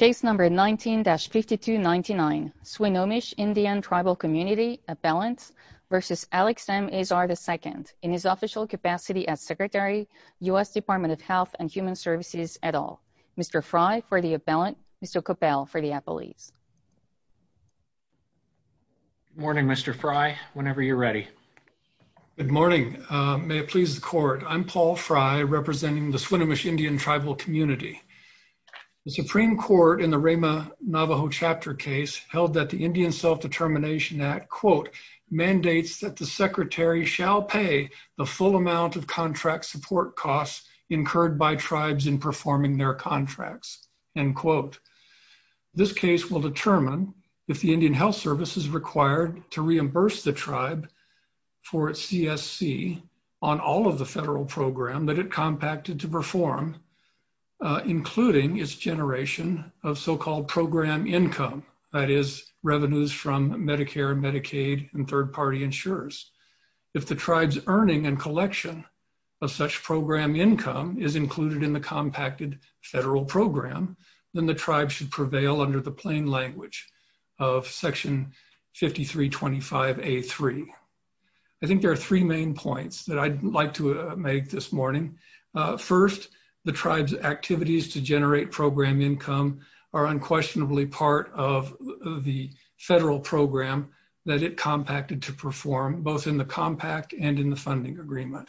in his official capacity as Secretary, U.S. Department of Health and Human Services, et al. Mr. Frye for the appellant, Mr. Coppell for the appellees. Good morning, Mr. Frye, whenever you're ready. Good morning. May it please the Court, I'm Paul Frye, representing the Swinomish Indian Tribal Community. The Supreme Court in the Rama Navajo Chapter case held that the Indian Self-Determination Act, quote, mandates that the Secretary shall pay the full amount of contract support costs incurred by tribes in performing their contracts, end quote. This case will determine if the Indian Health Service is required to reimburse the tribe for its CSC on all of the federal program that it compacted to perform, including its generation of so-called program income, that is, revenues from Medicare and Medicaid and third-party insurers. If the tribe's earning and collection of such program income is included in the compacted federal program, then the tribe should prevail under the plain language of Section 5325A3. I think there are three main points that I'd like to make this morning. First, the tribe's activities to generate program income are unquestionably part of the federal program that it compacted to perform, both in the compact and in the funding agreement.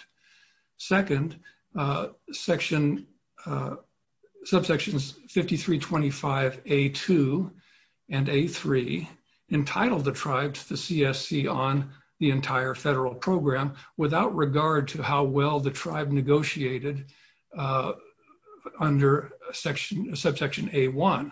Second, Subsections 5325A2 and A3 entitled the tribe to the CSC on the entire federal program without regard to how well the tribe negotiated under Subsection A1.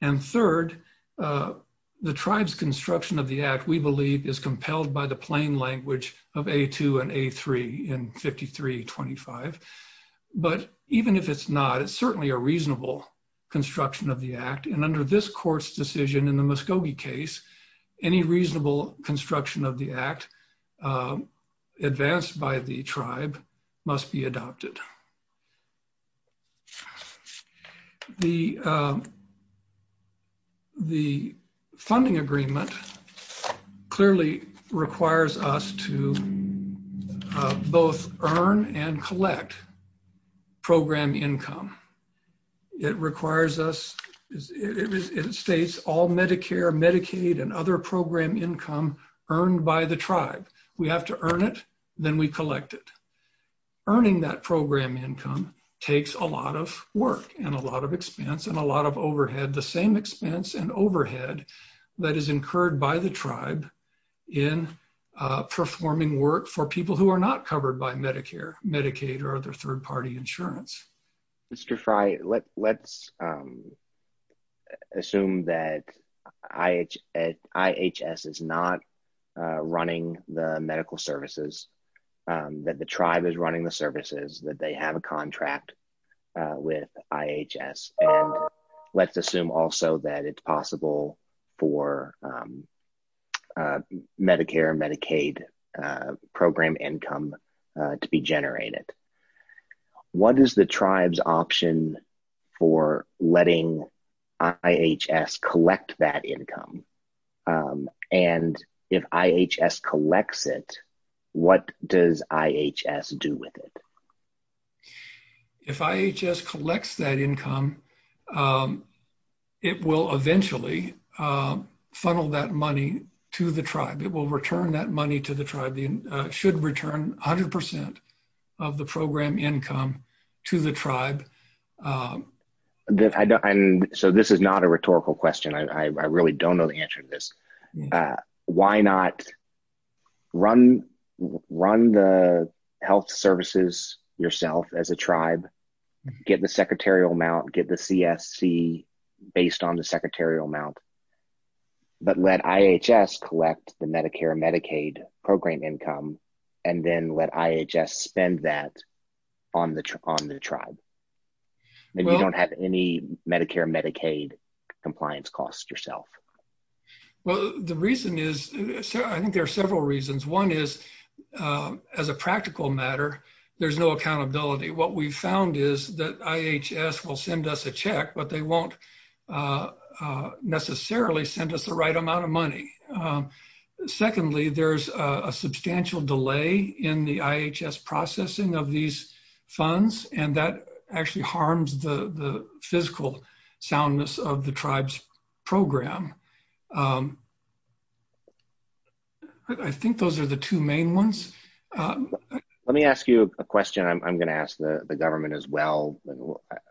And third, the tribe's construction of the Act, we believe, is compelled by the plain language of A2 and A3 in 5325. But even if it's not, it's certainly a reasonable construction of the Act, and under this court's decision in the Muskogee case, any reasonable construction of the Act advanced by the tribe must be adopted. The funding agreement clearly requires us to both earn and collect program income. It requires us, it states all Medicare, Medicaid, and other program income earned by the tribe. We have to earn it, then we collect it. Earning that program income takes a lot of work and a lot of expense and a lot of overhead, the same expense and overhead that is incurred by the tribe in performing work for people who are not covered by Medicare, Medicaid, or other third-party insurance. Mr. Fry, let's assume that IHS is not running the medical services, that the tribe is running the services, that they have a contract with IHS, and let's assume also that it's possible for Medicare, Medicaid program income to be generated. What is the tribe's option for letting IHS collect that income? And if IHS collects it, what does IHS do with it? If IHS collects that income, it will eventually funnel that money to the tribe. It will return that money to the tribe. It should return 100% of the program income to the tribe. So this is not a rhetorical question. I really don't know the answer to this. Why not run the health services yourself as a tribe, get the secretarial amount, get the CSC based on the secretarial amount, but let IHS collect the Medicare, Medicaid program income, and then let IHS spend that on the tribe? Maybe you don't have any Medicare, Medicaid compliance costs yourself. Well, the reason is, I think there are several reasons. One is, as a practical matter, there's no accountability. What we found is that IHS will send us a check, but they won't necessarily send us the right amount of money. Secondly, there's a substantial delay in the IHS processing of these funds, and that actually harms the physical soundness of the tribe's program. I think those are the two main ones. Let me ask you a question. I'm going to ask the government as well.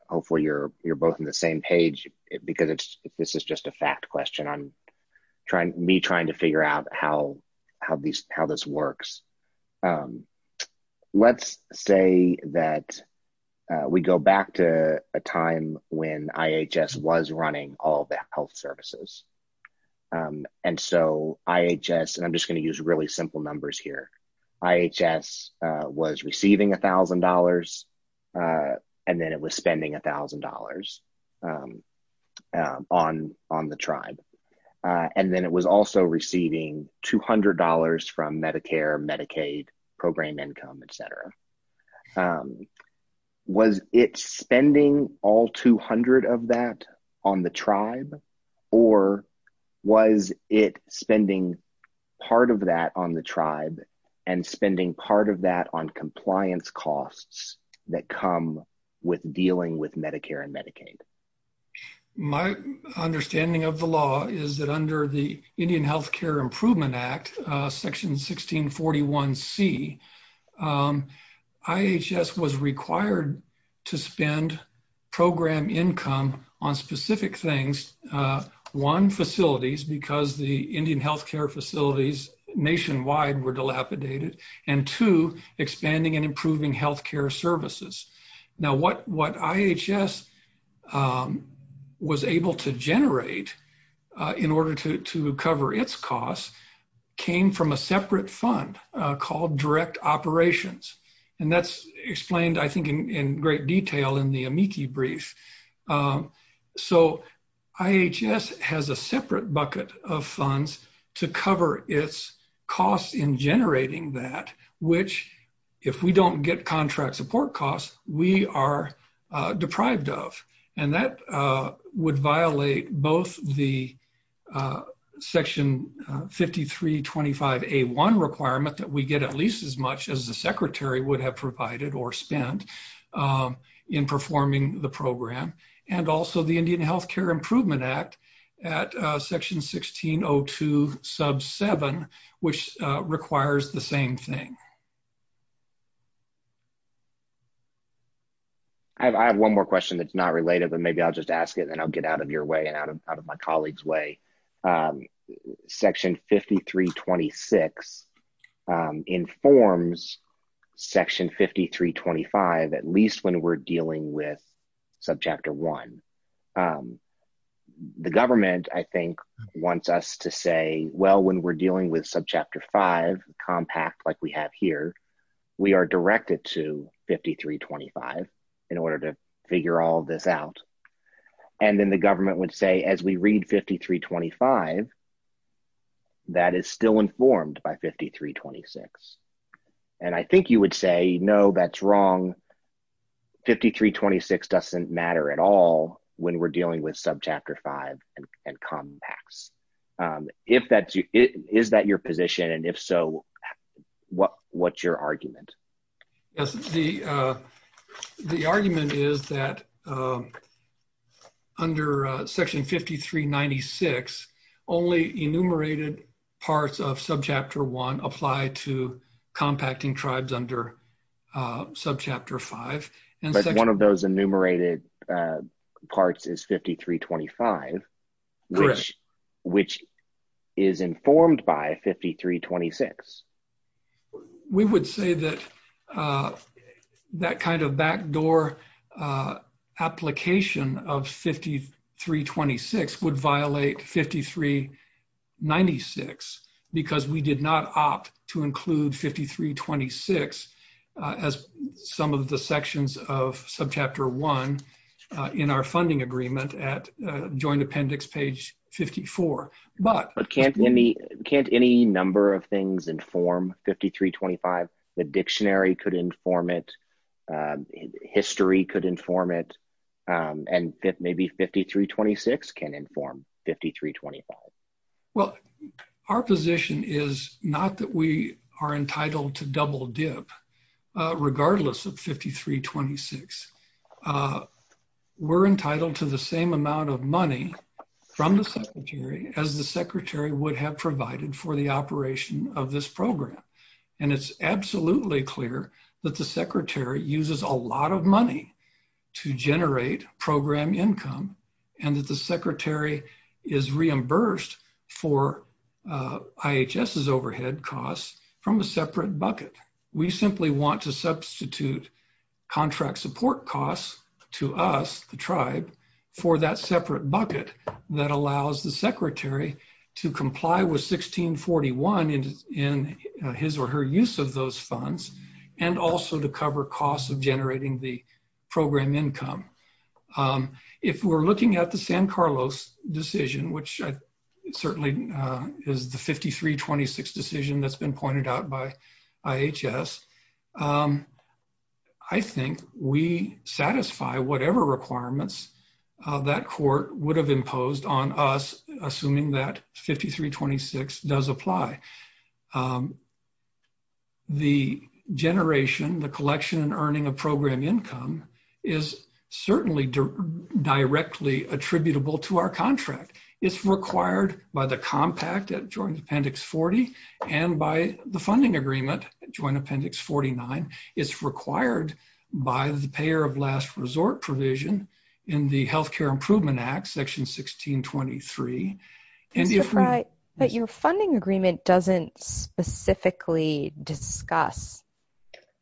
Hopefully, you're both on the same page, because this is just a fact question on me trying to figure out how this works. Let's say that we go back to a time when IHS was running all the health services. I'm just going to use really simple numbers here. IHS was receiving $1,000, and then it was spending $1,000 on the tribe. Then it was also receiving $200 from Medicare, Medicaid, program income, etc. Was it spending all $200 of that on the tribe, or was it spending part of that on the tribe and spending part of that on compliance costs that come with dealing with Medicare and Medicaid? My understanding of the law is that under the Indian Health Care Improvement Act, Section 1641C, IHS was required to spend program income on specific things. One, facilities, because the Indian health care facilities nationwide were dilapidated, and two, expanding and improving health care services. Now, what IHS was able to generate in order to cover its costs came from a separate fund called direct operations, and that's explained, I think, in great detail in the amici brief. IHS has a separate bucket of funds to cover its costs in generating that, which, if we don't get contract support costs, we are deprived of. That would violate both the Section 5325A1 requirement that we get at least as much as the secretary would have provided or spent in performing the program, and also the Indian Health Care Improvement Act at Section 1602 sub 7, which requires the same thing. I have one more question that's not related, but maybe I'll just ask it, and I'll get out of your way and out of my colleague's way. Section 5326 informs Section 5325, at least when we're dealing with Subchapter 1. The government, I think, wants us to say, well, when we're dealing with Subchapter 5, compact, like we have here, we are directed to 5325 in order to figure all this out. And then the government would say, as we read 5325, that is still informed by 5326, and I think you would say, no, that's wrong. 5326 doesn't matter at all when we're dealing with Subchapter 5 and compacts. Is that your position, and if so, what's your argument? Yes, the argument is that under Section 5396 only enumerated parts of Subchapter 1 apply to compacting tribes under Subchapter 5. But one of those enumerated parts is 5325, which is informed by 5326. We would say that that kind of backdoor application of 5326 would violate 5396 because we did not opt to include 5326 as some of the sections of Subchapter 1 in our funding agreement at Joint Appendix page 54. But can't any number of things inform 5325? The dictionary could inform it, history could inform it, and maybe 5326 can inform 5325. Well, our position is not that we are entitled to double dip, regardless of 5326. We're entitled to the same amount of money from the Secretary as the Secretary would have provided for the operation of this program. And it's absolutely clear that the Secretary uses a lot of money to generate program income and that the Secretary is reimbursed for IHS's overhead costs from a separate bucket. We simply want to substitute contract support costs to us, the tribe, for that separate bucket that allows the Secretary to comply with 1641 in his or her use of those funds and also to cover costs of generating the program income. If we're looking at the San Carlos decision, which certainly is the 5326 decision that's been pointed out by IHS, I think we satisfy whatever requirements that court would have imposed on us, assuming that 5326 does apply. The generation, the collection and earning of program income is certainly directly attributable to our contract. It's required by the Compact at Joint Appendix 40 and by the funding agreement, Joint Appendix 49. It's required by the payer of last resort provision in the Health Care Improvement Act, Section 1623. But your funding agreement doesn't specifically discuss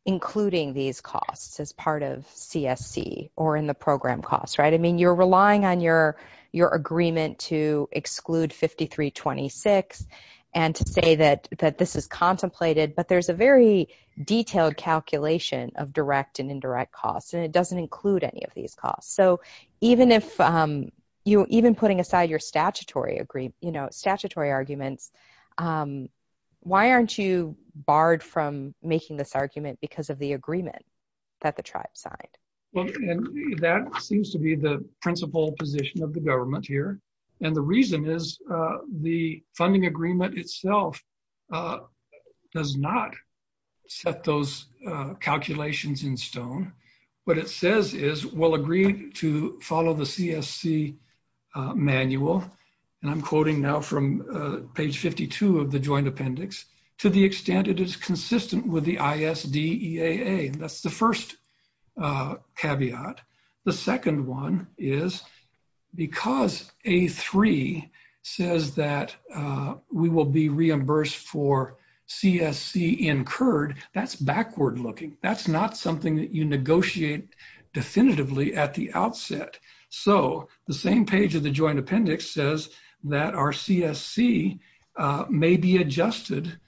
including these costs as part of CSC or in the program costs, right? I mean, you're relying on your agreement to exclude 5326 and to say that this is contemplated, but there's a very detailed calculation of direct and indirect costs, and it doesn't include any of these costs. Even putting aside your statutory arguments, why aren't you barred from making this argument because of the agreement that the tribe signed? Well, and that seems to be the principal position of the government here. And the reason is the funding agreement itself does not set those calculations in stone. And I'm quoting now from page 52 of the Joint Appendix, to the extent it is consistent with the ISDEAA. That's the first caveat. The second one is because A3 says that we will be reimbursed for CSC incurred, that's backward looking. That's not something that you negotiate definitively at the outset. So the same page of the Joint Appendix says that our CSC may be adjusted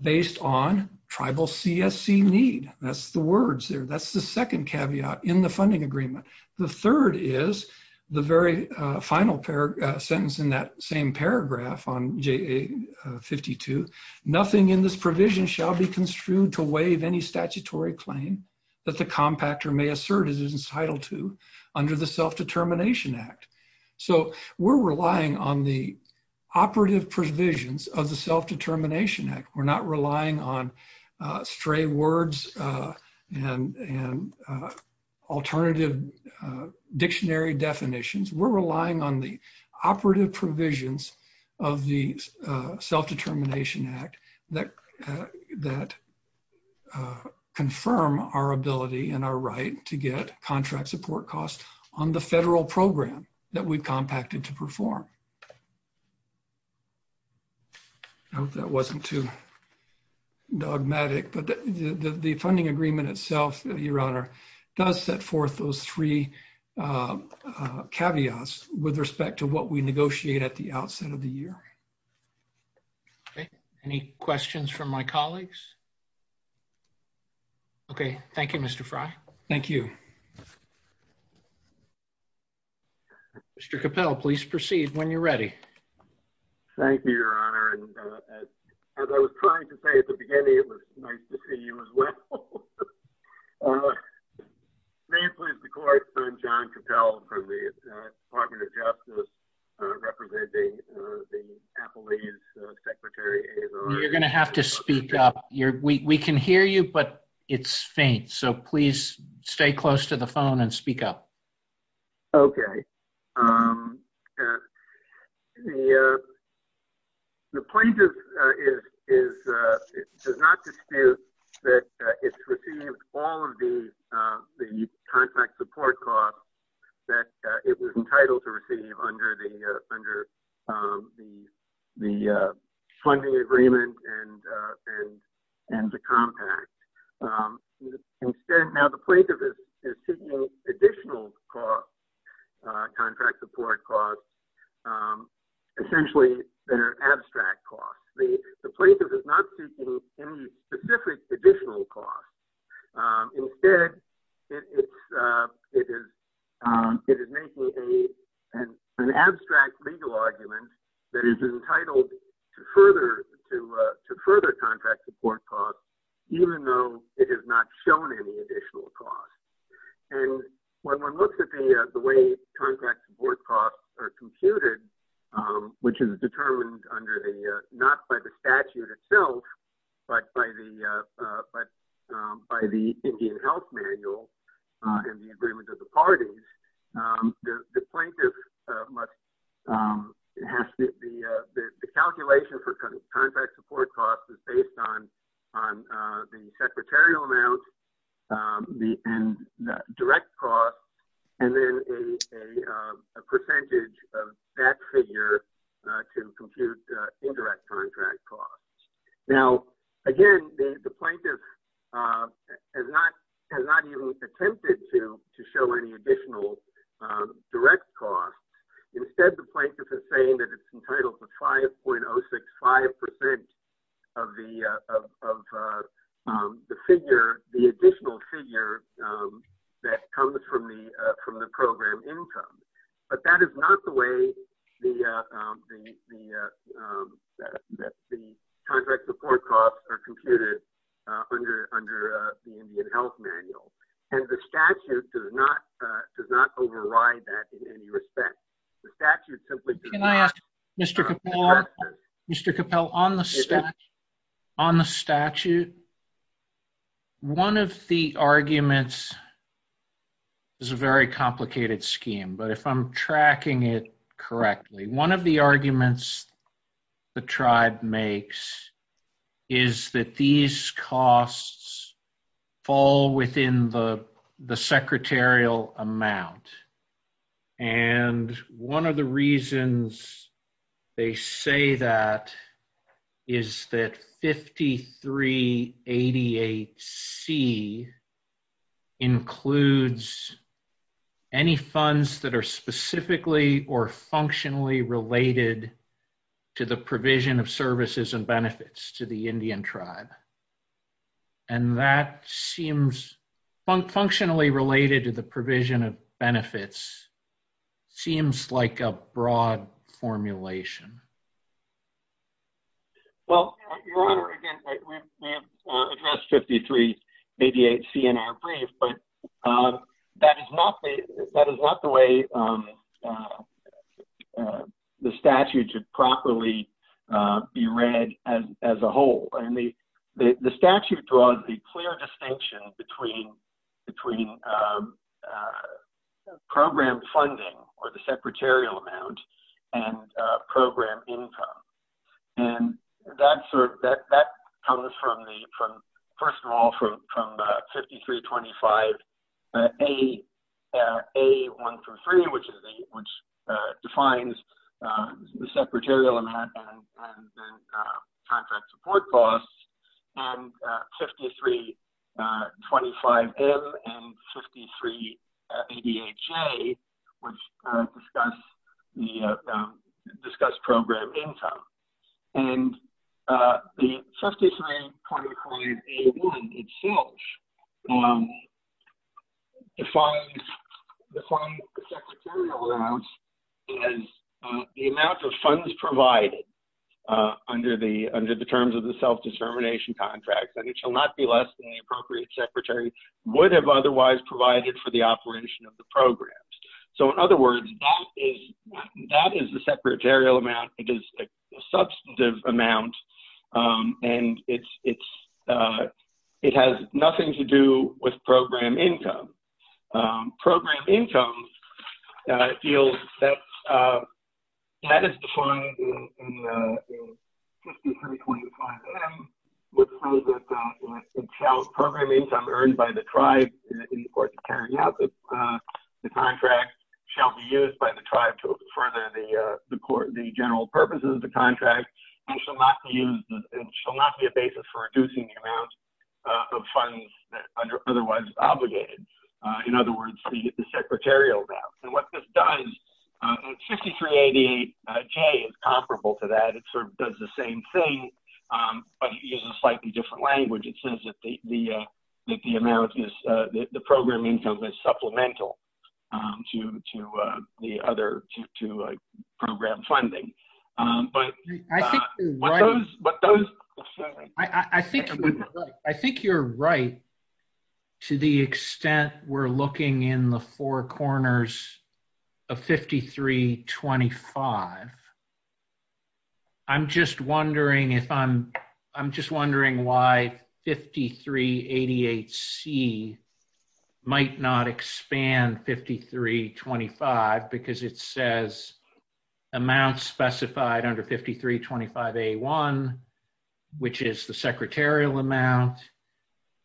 based on tribal CSC need. That's the words there. That's the second caveat in the funding agreement. The third is the very final sentence in that same paragraph on JA52. Nothing in this provision shall be construed to waive any statutory claim that the compactor may assert it is entitled to under the Self-Determination Act. So we're relying on the operative provisions of the Self-Determination Act. We're not relying on stray words and alternative dictionary definitions. We're relying on the operative provisions of the Self-Determination Act that confirm our ability and our right to get contract support costs on the federal program that we've compacted to perform. I hope that wasn't too dogmatic, but the funding agreement itself, Your Honor, does set forth those three caveats with respect to what we negotiate at the outset of the year. Okay. Any questions from my colleagues? Okay. Thank you, Mr. Frey. Thank you. Mr. Cappell, please proceed when you're ready. Thank you, Your Honor. As I was trying to say at the beginning, it was nice to see you as well. May it please the Court, I'm John Cappell from the Department of Justice, representing the Appalachian Secretary. You're going to have to speak up. We can hear you, but it's faint. So please stay close to the phone and speak up. Okay. The plaintiff does not dispute that it's received all of the contract support costs that it was entitled to receive under the funding agreement and the compact. Now, the plaintiff is seeking additional contract support costs essentially that are abstract costs. The plaintiff is not seeking any specific additional costs. Instead, it is making an abstract legal argument that is entitled to further contract support costs, even though it has not shown any additional costs. When one looks at the way contract support costs are computed, which is determined not by the statute itself, but by the Indian Health Manual and the agreement of the parties, the calculation for contract support costs is based on the secretarial amount and direct costs, and then a percentage of that figure to compute indirect contract costs. Now, again, the plaintiff has not even attempted to show any additional direct costs. Instead, the plaintiff is saying that it's entitled to 5.065% of the additional figure that comes from the program income. But that is not the way the contract support costs are computed under the Indian Health Manual. And the statute does not override that in any respect. Can I ask, Mr. Capel, on the statute, one of the arguments is a very complicated scheme, but if I'm tracking it correctly, one of the arguments the tribe makes is that these costs fall within the secretarial amount. And one of the reasons they say that is that 5388C includes any funds that are specifically or functionally related to the provision of services and benefits to the Indian tribe. And that seems, functionally related to the provision of benefits, seems like a broad formulation. Well, Your Honor, again, we have addressed 5388C in our brief, but that is not the way the statute should properly be read as a whole. The statute draws the clear distinction between program funding or the secretarial amount and program income. And that comes from, first of all, from 5325A-1-3, which defines the secretarial amount and contract support costs, and 5325M and 5388J, which discuss program income. And the 5325A-1 itself defines the secretarial amount as the amount of funds provided under the terms of the self-determination contract. And it shall not be less than the appropriate secretary would have otherwise provided for the operation of the programs. So, in other words, that is the secretarial amount. It is a substantive amount, and it has nothing to do with program income. Program income, I feel, that is defined in 5325M, which says that it shall program income earned by the tribe, and, of course, it turns out that the contract shall be used by the tribe for the general purposes of the contract, and shall not be a basis for reducing the amount of funds that are otherwise obligated. In other words, you get the secretarial amount. And what this does, and 5388J is comparable to that. It sort of does the same thing, but it uses a slightly different language. It says that the program income is supplemental to the other program funding. I think you're right to the extent we're looking in the four corners of 5325. I'm just wondering if I'm, I'm just wondering why 5388C might not expand 5325, because it says amounts specified under 5325A1, which is the secretarial amount,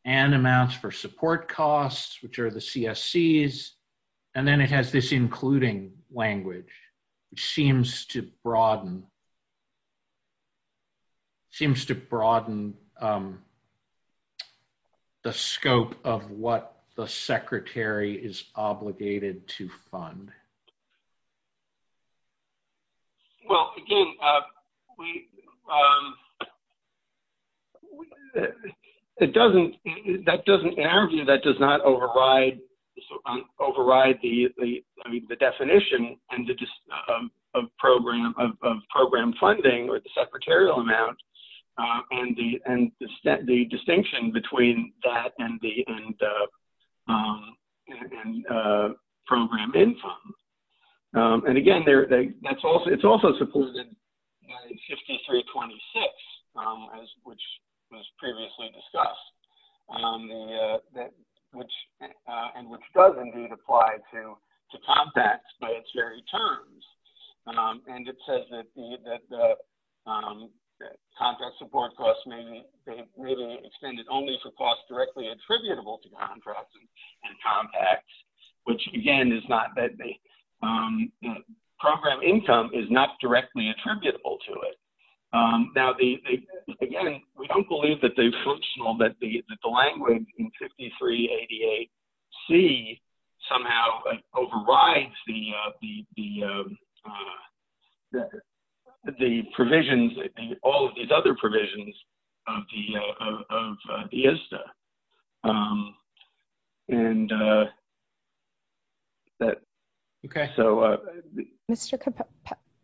and amounts for support costs, which are the CSCs. And then it has this including language, which seems to broaden, seems to broaden the scope of what the secretary is obligated to fund. Well, again, that doesn't, in our view, that does not override the definition of program funding or the secretarial amount, and the distinction between that and the program income. And again, it's also supported in 5326, which was previously discussed, and which does indeed apply to contracts by its very terms. And it says that the contract support costs may be extended only for costs directly attributable to contracts and contracts, which, again, is not that the program income is not directly attributable to it. Now, again, we don't believe that the functional, that the language in 5388C somehow overrides the provisions, all of these other provisions of the ISDA. And that, okay, so.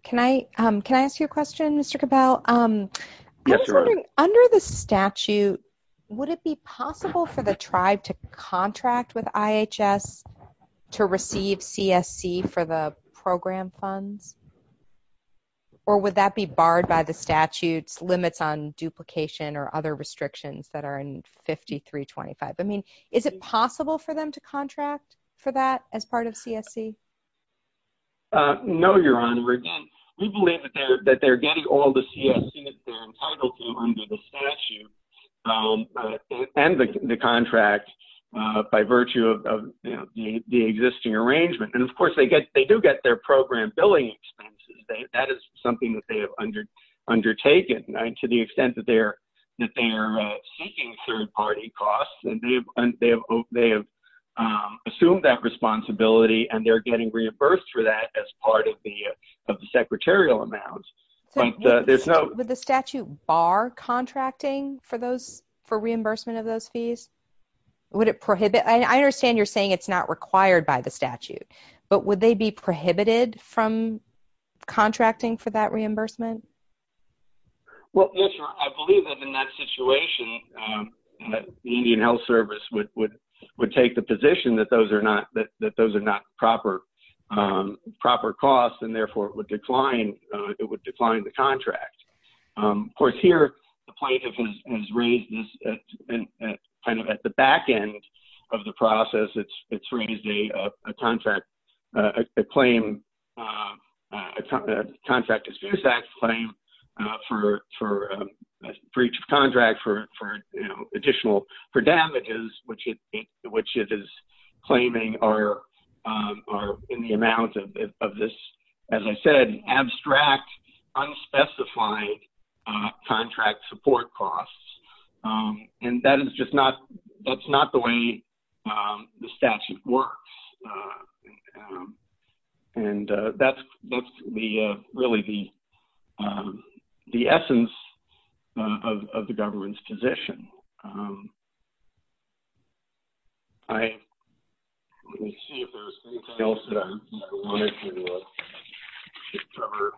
Can I ask you a question, Mr. Cabell? Yes, you are. Under the statute, would it be possible for the tribe to contract with IHS to receive CSC for the program funds? Or would that be barred by the statute's limits on duplication or other restrictions that are in 5325? I mean, is it possible for them to contract for that as part of CSC? No, Your Honor. Again, we believe that they're getting all the CSC that they're entitled to under the statute and the contract by virtue of the existing arrangement. And, of course, they do get their program billing expenses. That is something that they have undertaken to the extent that they are seeking third-party costs. And they have assumed that responsibility, and they're getting reimbursed for that as part of the secretarial amount. So would the statute bar contracting for reimbursement of those fees? Would it prohibit? I understand you're saying it's not required by the statute. But would they be prohibited from contracting for that reimbursement? Well, yes, Your Honor. I believe that in that situation, the Indian Health Service would take the position that those are not proper costs and, therefore, it would decline the contract. Of course, here, the plaintiff has raised this kind of at the back end of the process. It's raised a contract claim for breach of contract for additional damages, which it is claiming are in the amount of this, as I said, abstract, unspecified contract support costs. And that is just not the way the statute works. And that's really the essence of the government's position. All right. Let me see if there's anything else that I wanted to cover.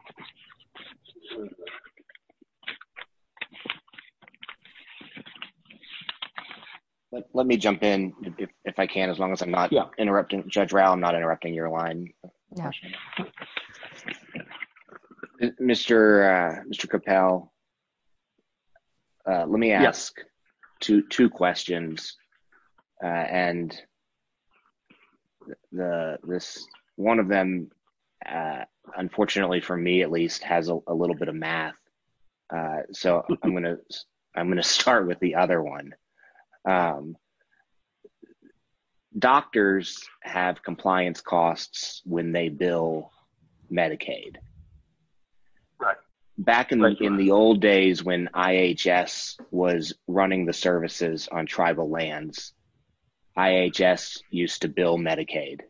Let me jump in, if I can, as long as I'm not interrupting. Judge Rao, I'm not interrupting your line. Mr. Capel, let me ask two questions. And this one of them, unfortunately for me, at least, has a little bit of math. So I'm going to start with the other one. Doctors have compliance costs when they bill Medicaid. Back in the old days when IHS was running the services on tribal lands, IHS used to bill Medicaid.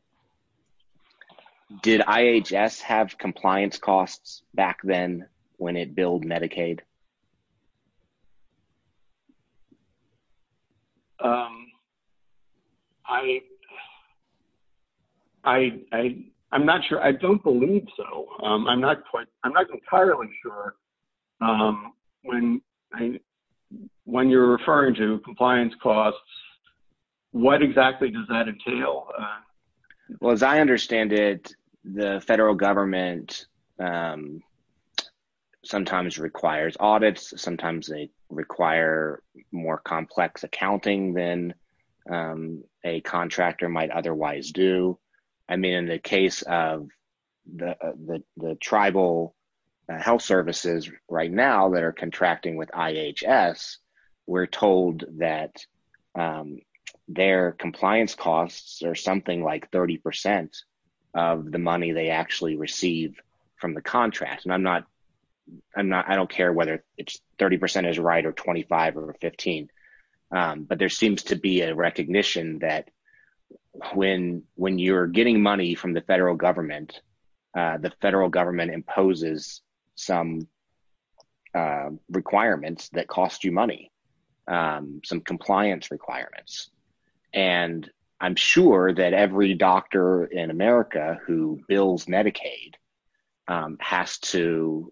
Did IHS have compliance costs back then when it billed Medicaid? I'm not sure. I don't believe so. I'm not entirely sure. When you're referring to compliance costs, what exactly does that entail? Well, as I understand it, the federal government sometimes requires audits. Sometimes they require more complex accounting than a contractor might otherwise do. I mean, in the case of the tribal health services right now that are contracting with IHS, we're told that their compliance costs are something like 30 percent of the money they actually receive from the contract. And I don't care whether 30 percent is right or 25 or 15. But there seems to be a recognition that when you're getting money from the federal government, the federal government imposes some requirements that cost you money, some compliance requirements. And I'm sure that every doctor in America who bills Medicaid has to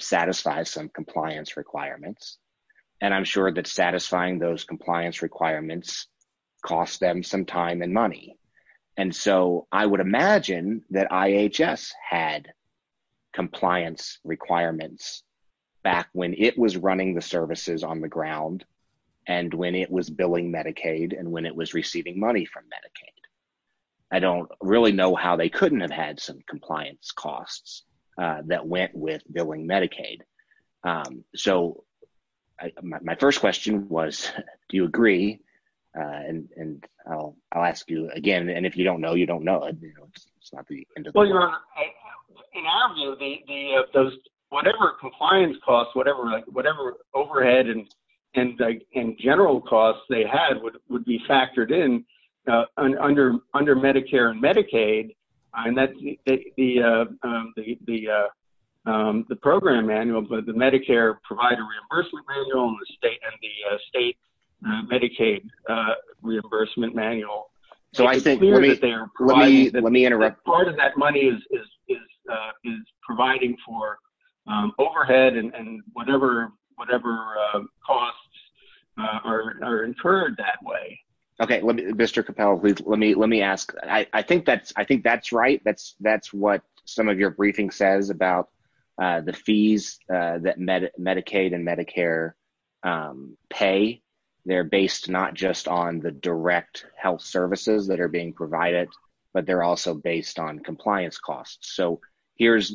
satisfy some compliance requirements. And I'm sure that satisfying those compliance requirements costs them some time and money. And so I would imagine that IHS had compliance requirements back when it was running the services on the ground and when it was billing Medicaid and when it was receiving money from Medicaid. I don't really know how they couldn't have had some compliance costs that went with billing Medicaid. So my first question was, do you agree? And I'll ask you again. And if you don't know, you don't know. In our view, whatever compliance costs, whatever overhead and general costs they had would be factored in under Medicare and Medicaid. And that's the program manual, but the Medicare provider reimbursement manual and the state Medicaid reimbursement manual. Part of that money is providing for overhead and whatever costs are incurred that way. Okay. Mr. Capel, let me ask. I think that's right. That's what some of your briefing says about the fees that Medicaid and Medicare pay. They're based not just on the direct health services that are being provided, but they're also based on compliance costs. So here's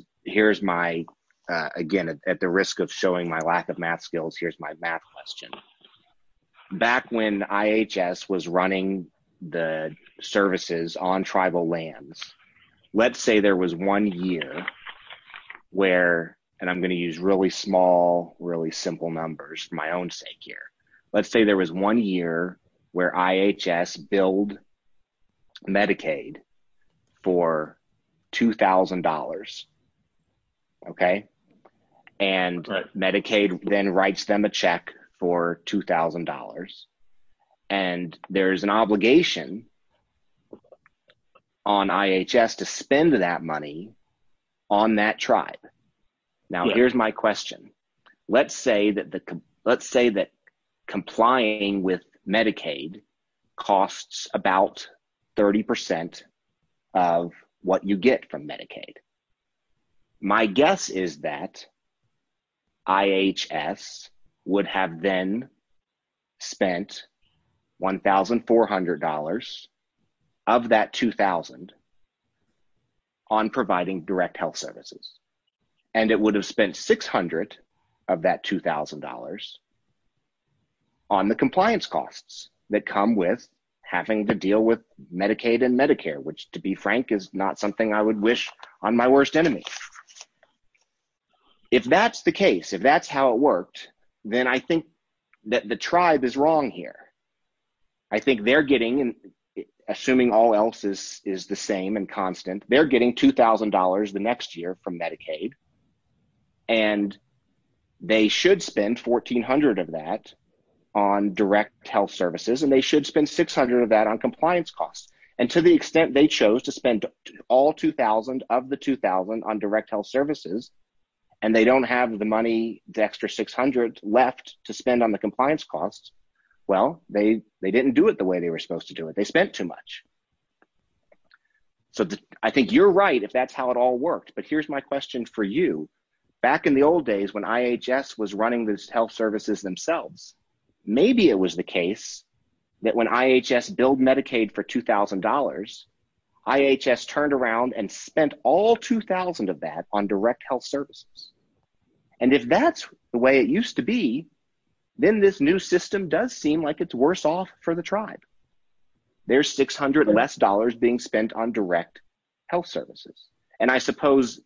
my, again, at the risk of showing my lack of math skills, here's my math question. Back when IHS was running the services on tribal lands, let's say there was one year where, and I'm going to use really small, really simple numbers for my own sake here. Let's say there was one year where IHS billed Medicaid for $2,000. Okay. And Medicaid then writes them a check for $2,000. And there is an obligation on IHS to spend that money on that tribe. Now, here's my question. Let's say that complying with Medicaid costs about 30% of what you get from Medicaid. My guess is that IHS would have then spent $1,400 of that $2,000 on providing direct health services. And it would have spent $600 of that $2,000 on the compliance costs that come with having to deal with Medicaid and Medicare, which, to be frank, is not something I would wish on my worst enemy. If that's the case, if that's how it worked, then I think that the tribe is wrong here. I think they're getting, assuming all else is the same and constant, they're getting $2,000 the next year from Medicaid, and they should spend $1,400 of that on direct health services, and they should spend $600 of that on compliance costs. And to the extent they chose to spend all $2,000 of the $2,000 on direct health services, and they don't have the money, the extra $600 left to spend on the compliance costs. Well, they didn't do it the way they were supposed to do it. They spent too much. So I think you're right if that's how it all worked, but here's my question for you. Back in the old days when IHS was running the health services themselves, maybe it was the case that when IHS billed Medicaid for $2,000, IHS turned around and spent all $2,000 of that on direct health services. And if that's the way it used to be, then this new system does seem like it's worse off for the tribe. There's $600 less being spent on direct health services. And I suppose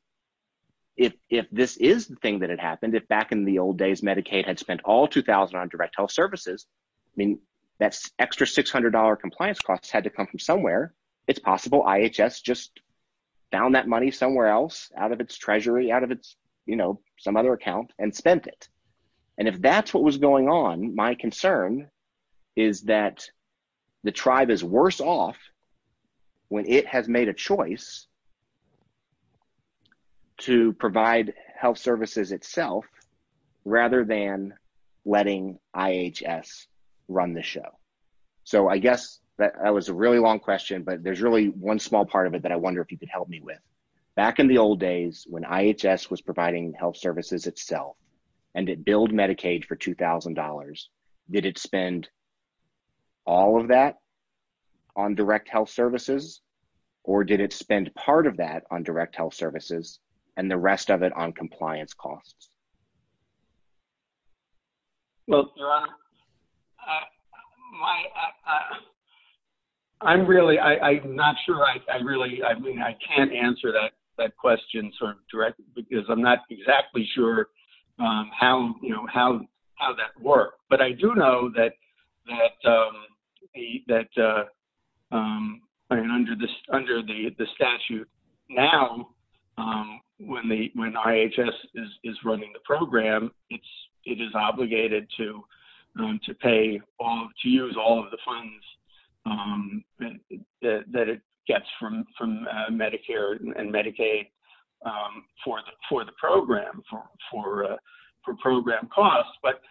if this is the thing that had happened, if back in the old days Medicaid had spent all $2,000 on direct health services, I mean that extra $600 compliance costs had to come from somewhere. It's possible IHS just found that money somewhere else out of its treasury, out of its, you know, some other account and spent it. And if that's what was going on, my concern is that the tribe is worse off when it has made a choice to provide health services itself rather than letting IHS run the show. So I guess that was a really long question, but there's really one small part of it that I wonder if you could help me with. Back in the old days when IHS was providing health services itself and it billed Medicaid for $2,000, did it spend all of that on direct health services or did it spend part of that on direct health services and the rest of it on compliance costs? Well, Your Honor, I'm really, I'm not sure I really, I mean I can't answer that question sort of directly because I'm not exactly sure how, you know, how that worked. But I do know that under the statute now when IHS is running the program, it is obligated to pay, to use all of the funds that it gets from Medicare and Medicaid for the program, for program costs. But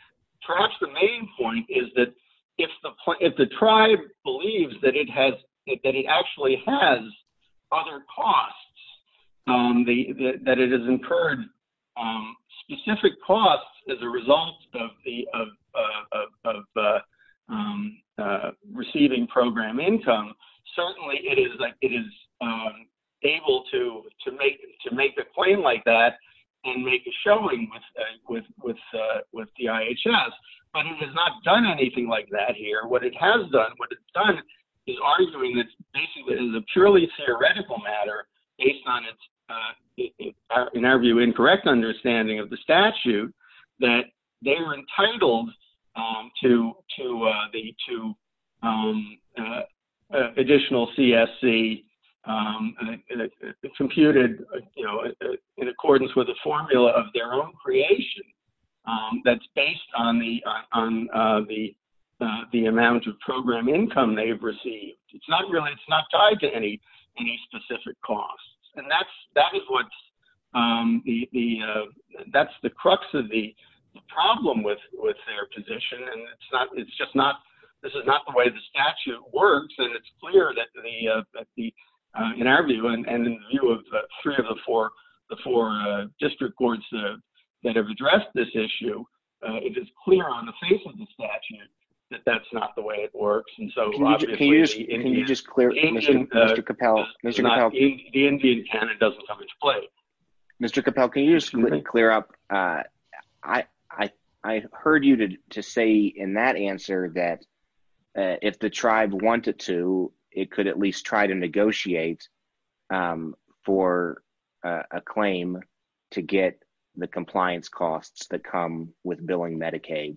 perhaps the main point is that if the tribe believes that it has, that it actually has other costs, that it has incurred specific costs as a result of receiving program income, certainly it is able to make a claim like that and make a showing with the IHS, but it has not done anything like that here. What it has done, what it's done is arguing that basically it is a purely theoretical matter based on its, in our view, incorrect understanding of the statute that they were entitled to additional CSC computed, you know, in accordance with a formula of their own creation that's based on the amount of program income they've received. It's not really, it's not tied to any specific costs. And that is what's, that's the crux of the problem with their position. And it's not, it's just not, this is not the way the statute works. And it's clear that the, in our view and in the view of three of the four, the four district courts that have addressed this issue, it is clear on the face of the statute that that's not the way it works. And so obviously, Can you just clear up? I heard you to say in that answer that if the tribe wanted to, it could at least try to negotiate for a claim to get the compliance costs that come with billing Medicaid.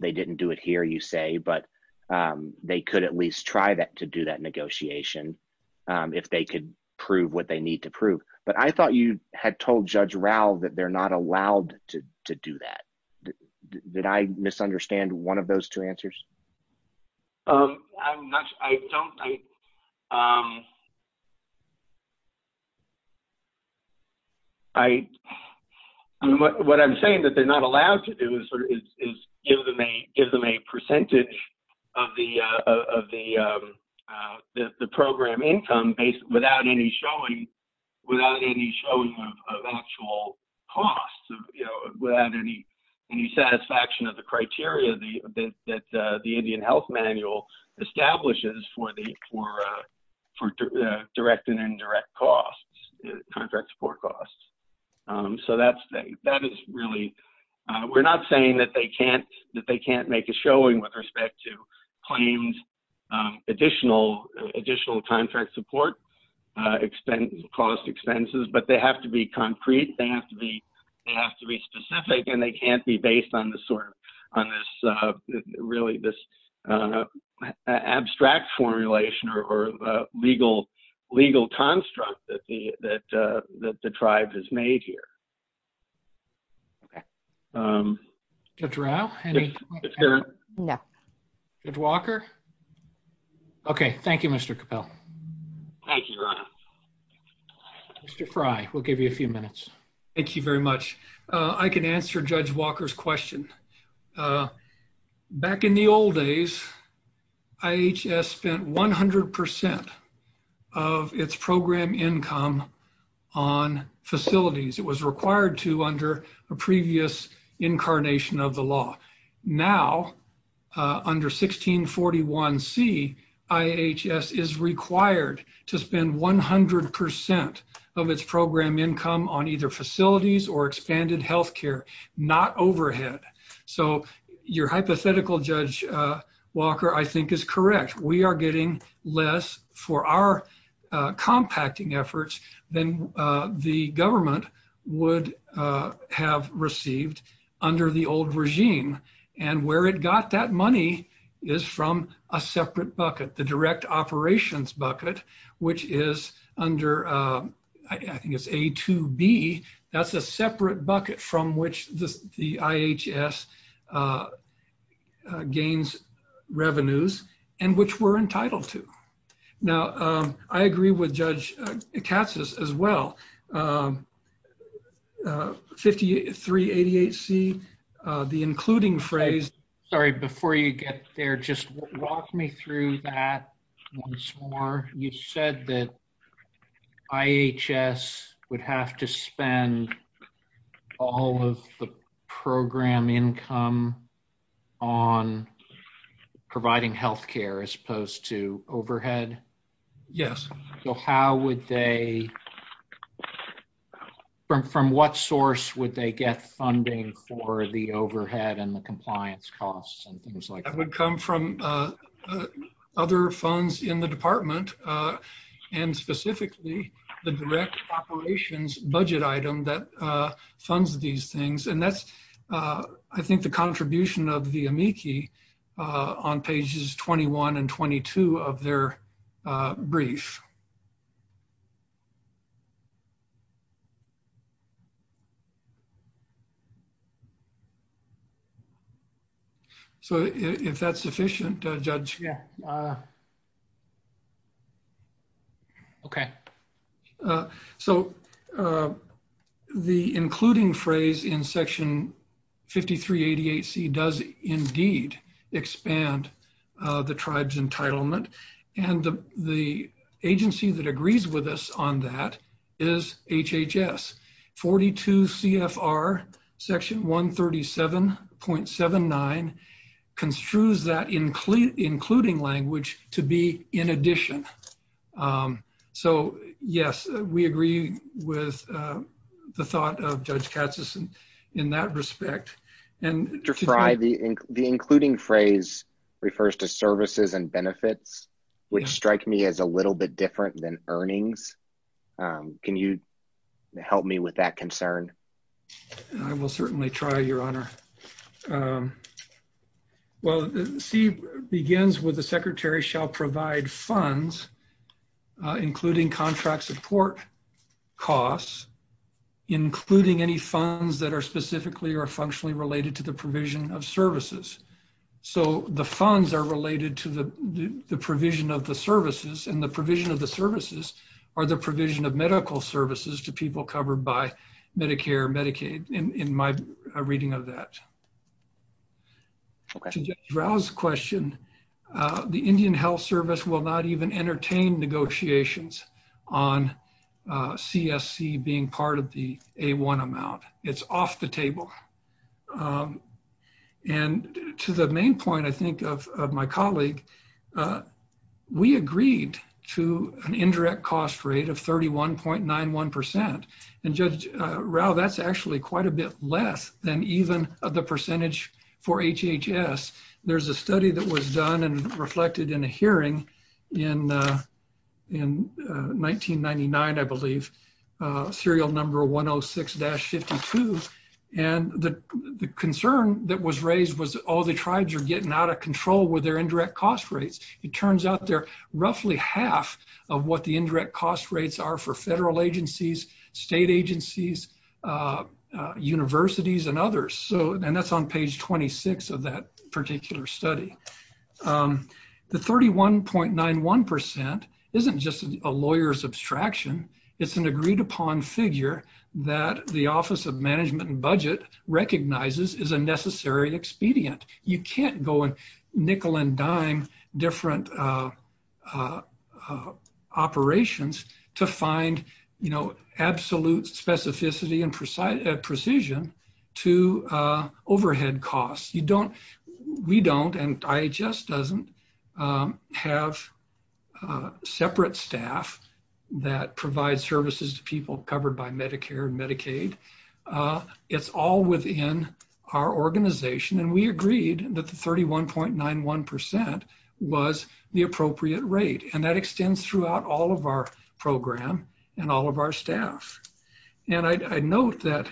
They didn't do it here, you say, but they could at least try that to do that negotiation if they could prove what they need to prove. But I thought you had told Judge Rao that they're not allowed to do that. Did I misunderstand one of those two answers? I'm not, I don't, I, what I'm saying that they're not allowed to do is give them a percentage of the program income without any showing of actual costs. Without any satisfaction of the criteria that the Indian Health Manual establishes for the, for direct and indirect costs, contract support costs. So that's, that is really, we're not saying that they can't, that they can't make a showing with respect to claims, additional, additional contract support, cost expenses, but they have to be concrete. They have to be, they have to be specific and they can't be based on the sort of, on this, really this abstract formulation or legal, legal construct that the, that the tribe has made here. Judge Rao? No. Judge Walker? Okay. Thank you, Mr. Capel. Thank you, Ron. Mr. Frey, we'll give you a few minutes. Thank you very much. I can answer Judge Walker's question. Back in the old days, IHS spent 100% of its program income on facilities. It was required to under a previous incarnation of the law. Now, under 1641C, IHS is required to spend 100% of its program income on either facilities or expanded healthcare, not overhead. So, your hypothetical, Judge Walker, I think is correct. We are getting less for our compacting efforts than the government would have received under the old regime. And where it got that money is from a separate bucket, the direct operations bucket, which is under, I think it's A2B. That's a separate bucket from which the IHS gains revenues and which we're entitled to. Now, I agree with Judge Katsas as well. Okay. Thank you. 5388C, the including phrase. Sorry, before you get there, just walk me through that once more. You said that IHS would have to spend all of the program income on providing healthcare as opposed to overhead? Yes. So, how would they, from what source would they get funding for the overhead and the compliance costs and things like that? That would come from other funds in the department, and specifically the direct operations budget item that funds these things. And that's, I think, the contribution of the amici on pages 21 and 22 of their brief. So, if that's sufficient, Judge. Yeah. Okay. So, the including phrase in Section 5388C does indeed expand the tribe's entitlement, and the agency that agrees with us on that is HHS. 42 CFR Section 137.79 construes that including language to be in addition. So, yes, we agree with the thought of Judge Katsas in that respect. And to try the including phrase refers to services and benefits, which strike me as a little bit different than earnings. Can you help me with that concern? Well, C begins with the secretary shall provide funds, including contract support costs, including any funds that are specifically or functionally related to the provision of services. So, the funds are related to the provision of the services, and the provision of the services are the provision of medical services to people covered by Medicare, Medicaid, in my reading of that. To Judge Rao's question, the Indian Health Service will not even entertain negotiations on CSC being part of the A1 amount. It's off the table. And to the main point, I think, of my colleague, we agreed to an indirect cost rate of 31.91%. And Judge Rao, that's actually quite a bit less than even the percentage for HHS. There's a study that was done and reflected in a hearing in 1999, I believe, serial number 106-52. And the concern that was raised was, oh, the tribes are getting out of control with their indirect cost rates. It turns out they're roughly half of what the indirect cost rates are for federal agencies, state agencies, universities, and others. And that's on page 26 of that particular study. The 31.91% isn't just a lawyer's abstraction. It's an agreed-upon figure that the Office of Management and Budget recognizes is a necessary expedient. You can't go and nickel and dime different operations to find, you know, absolute specificity and precision to overhead costs. We don't, and IHS doesn't, have separate staff that provides services to people covered by Medicare and Medicaid. It's all within our organization. And we agreed that the 31.91% was the appropriate rate. And that extends throughout all of our program and all of our staff. And I note that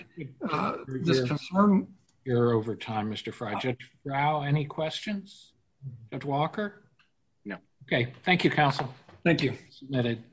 this concern... You're over time, Mr. Fry. Judge Rao, any questions? Judge Walker? No. Okay. Thank you, counsel. Thank you. Submitted.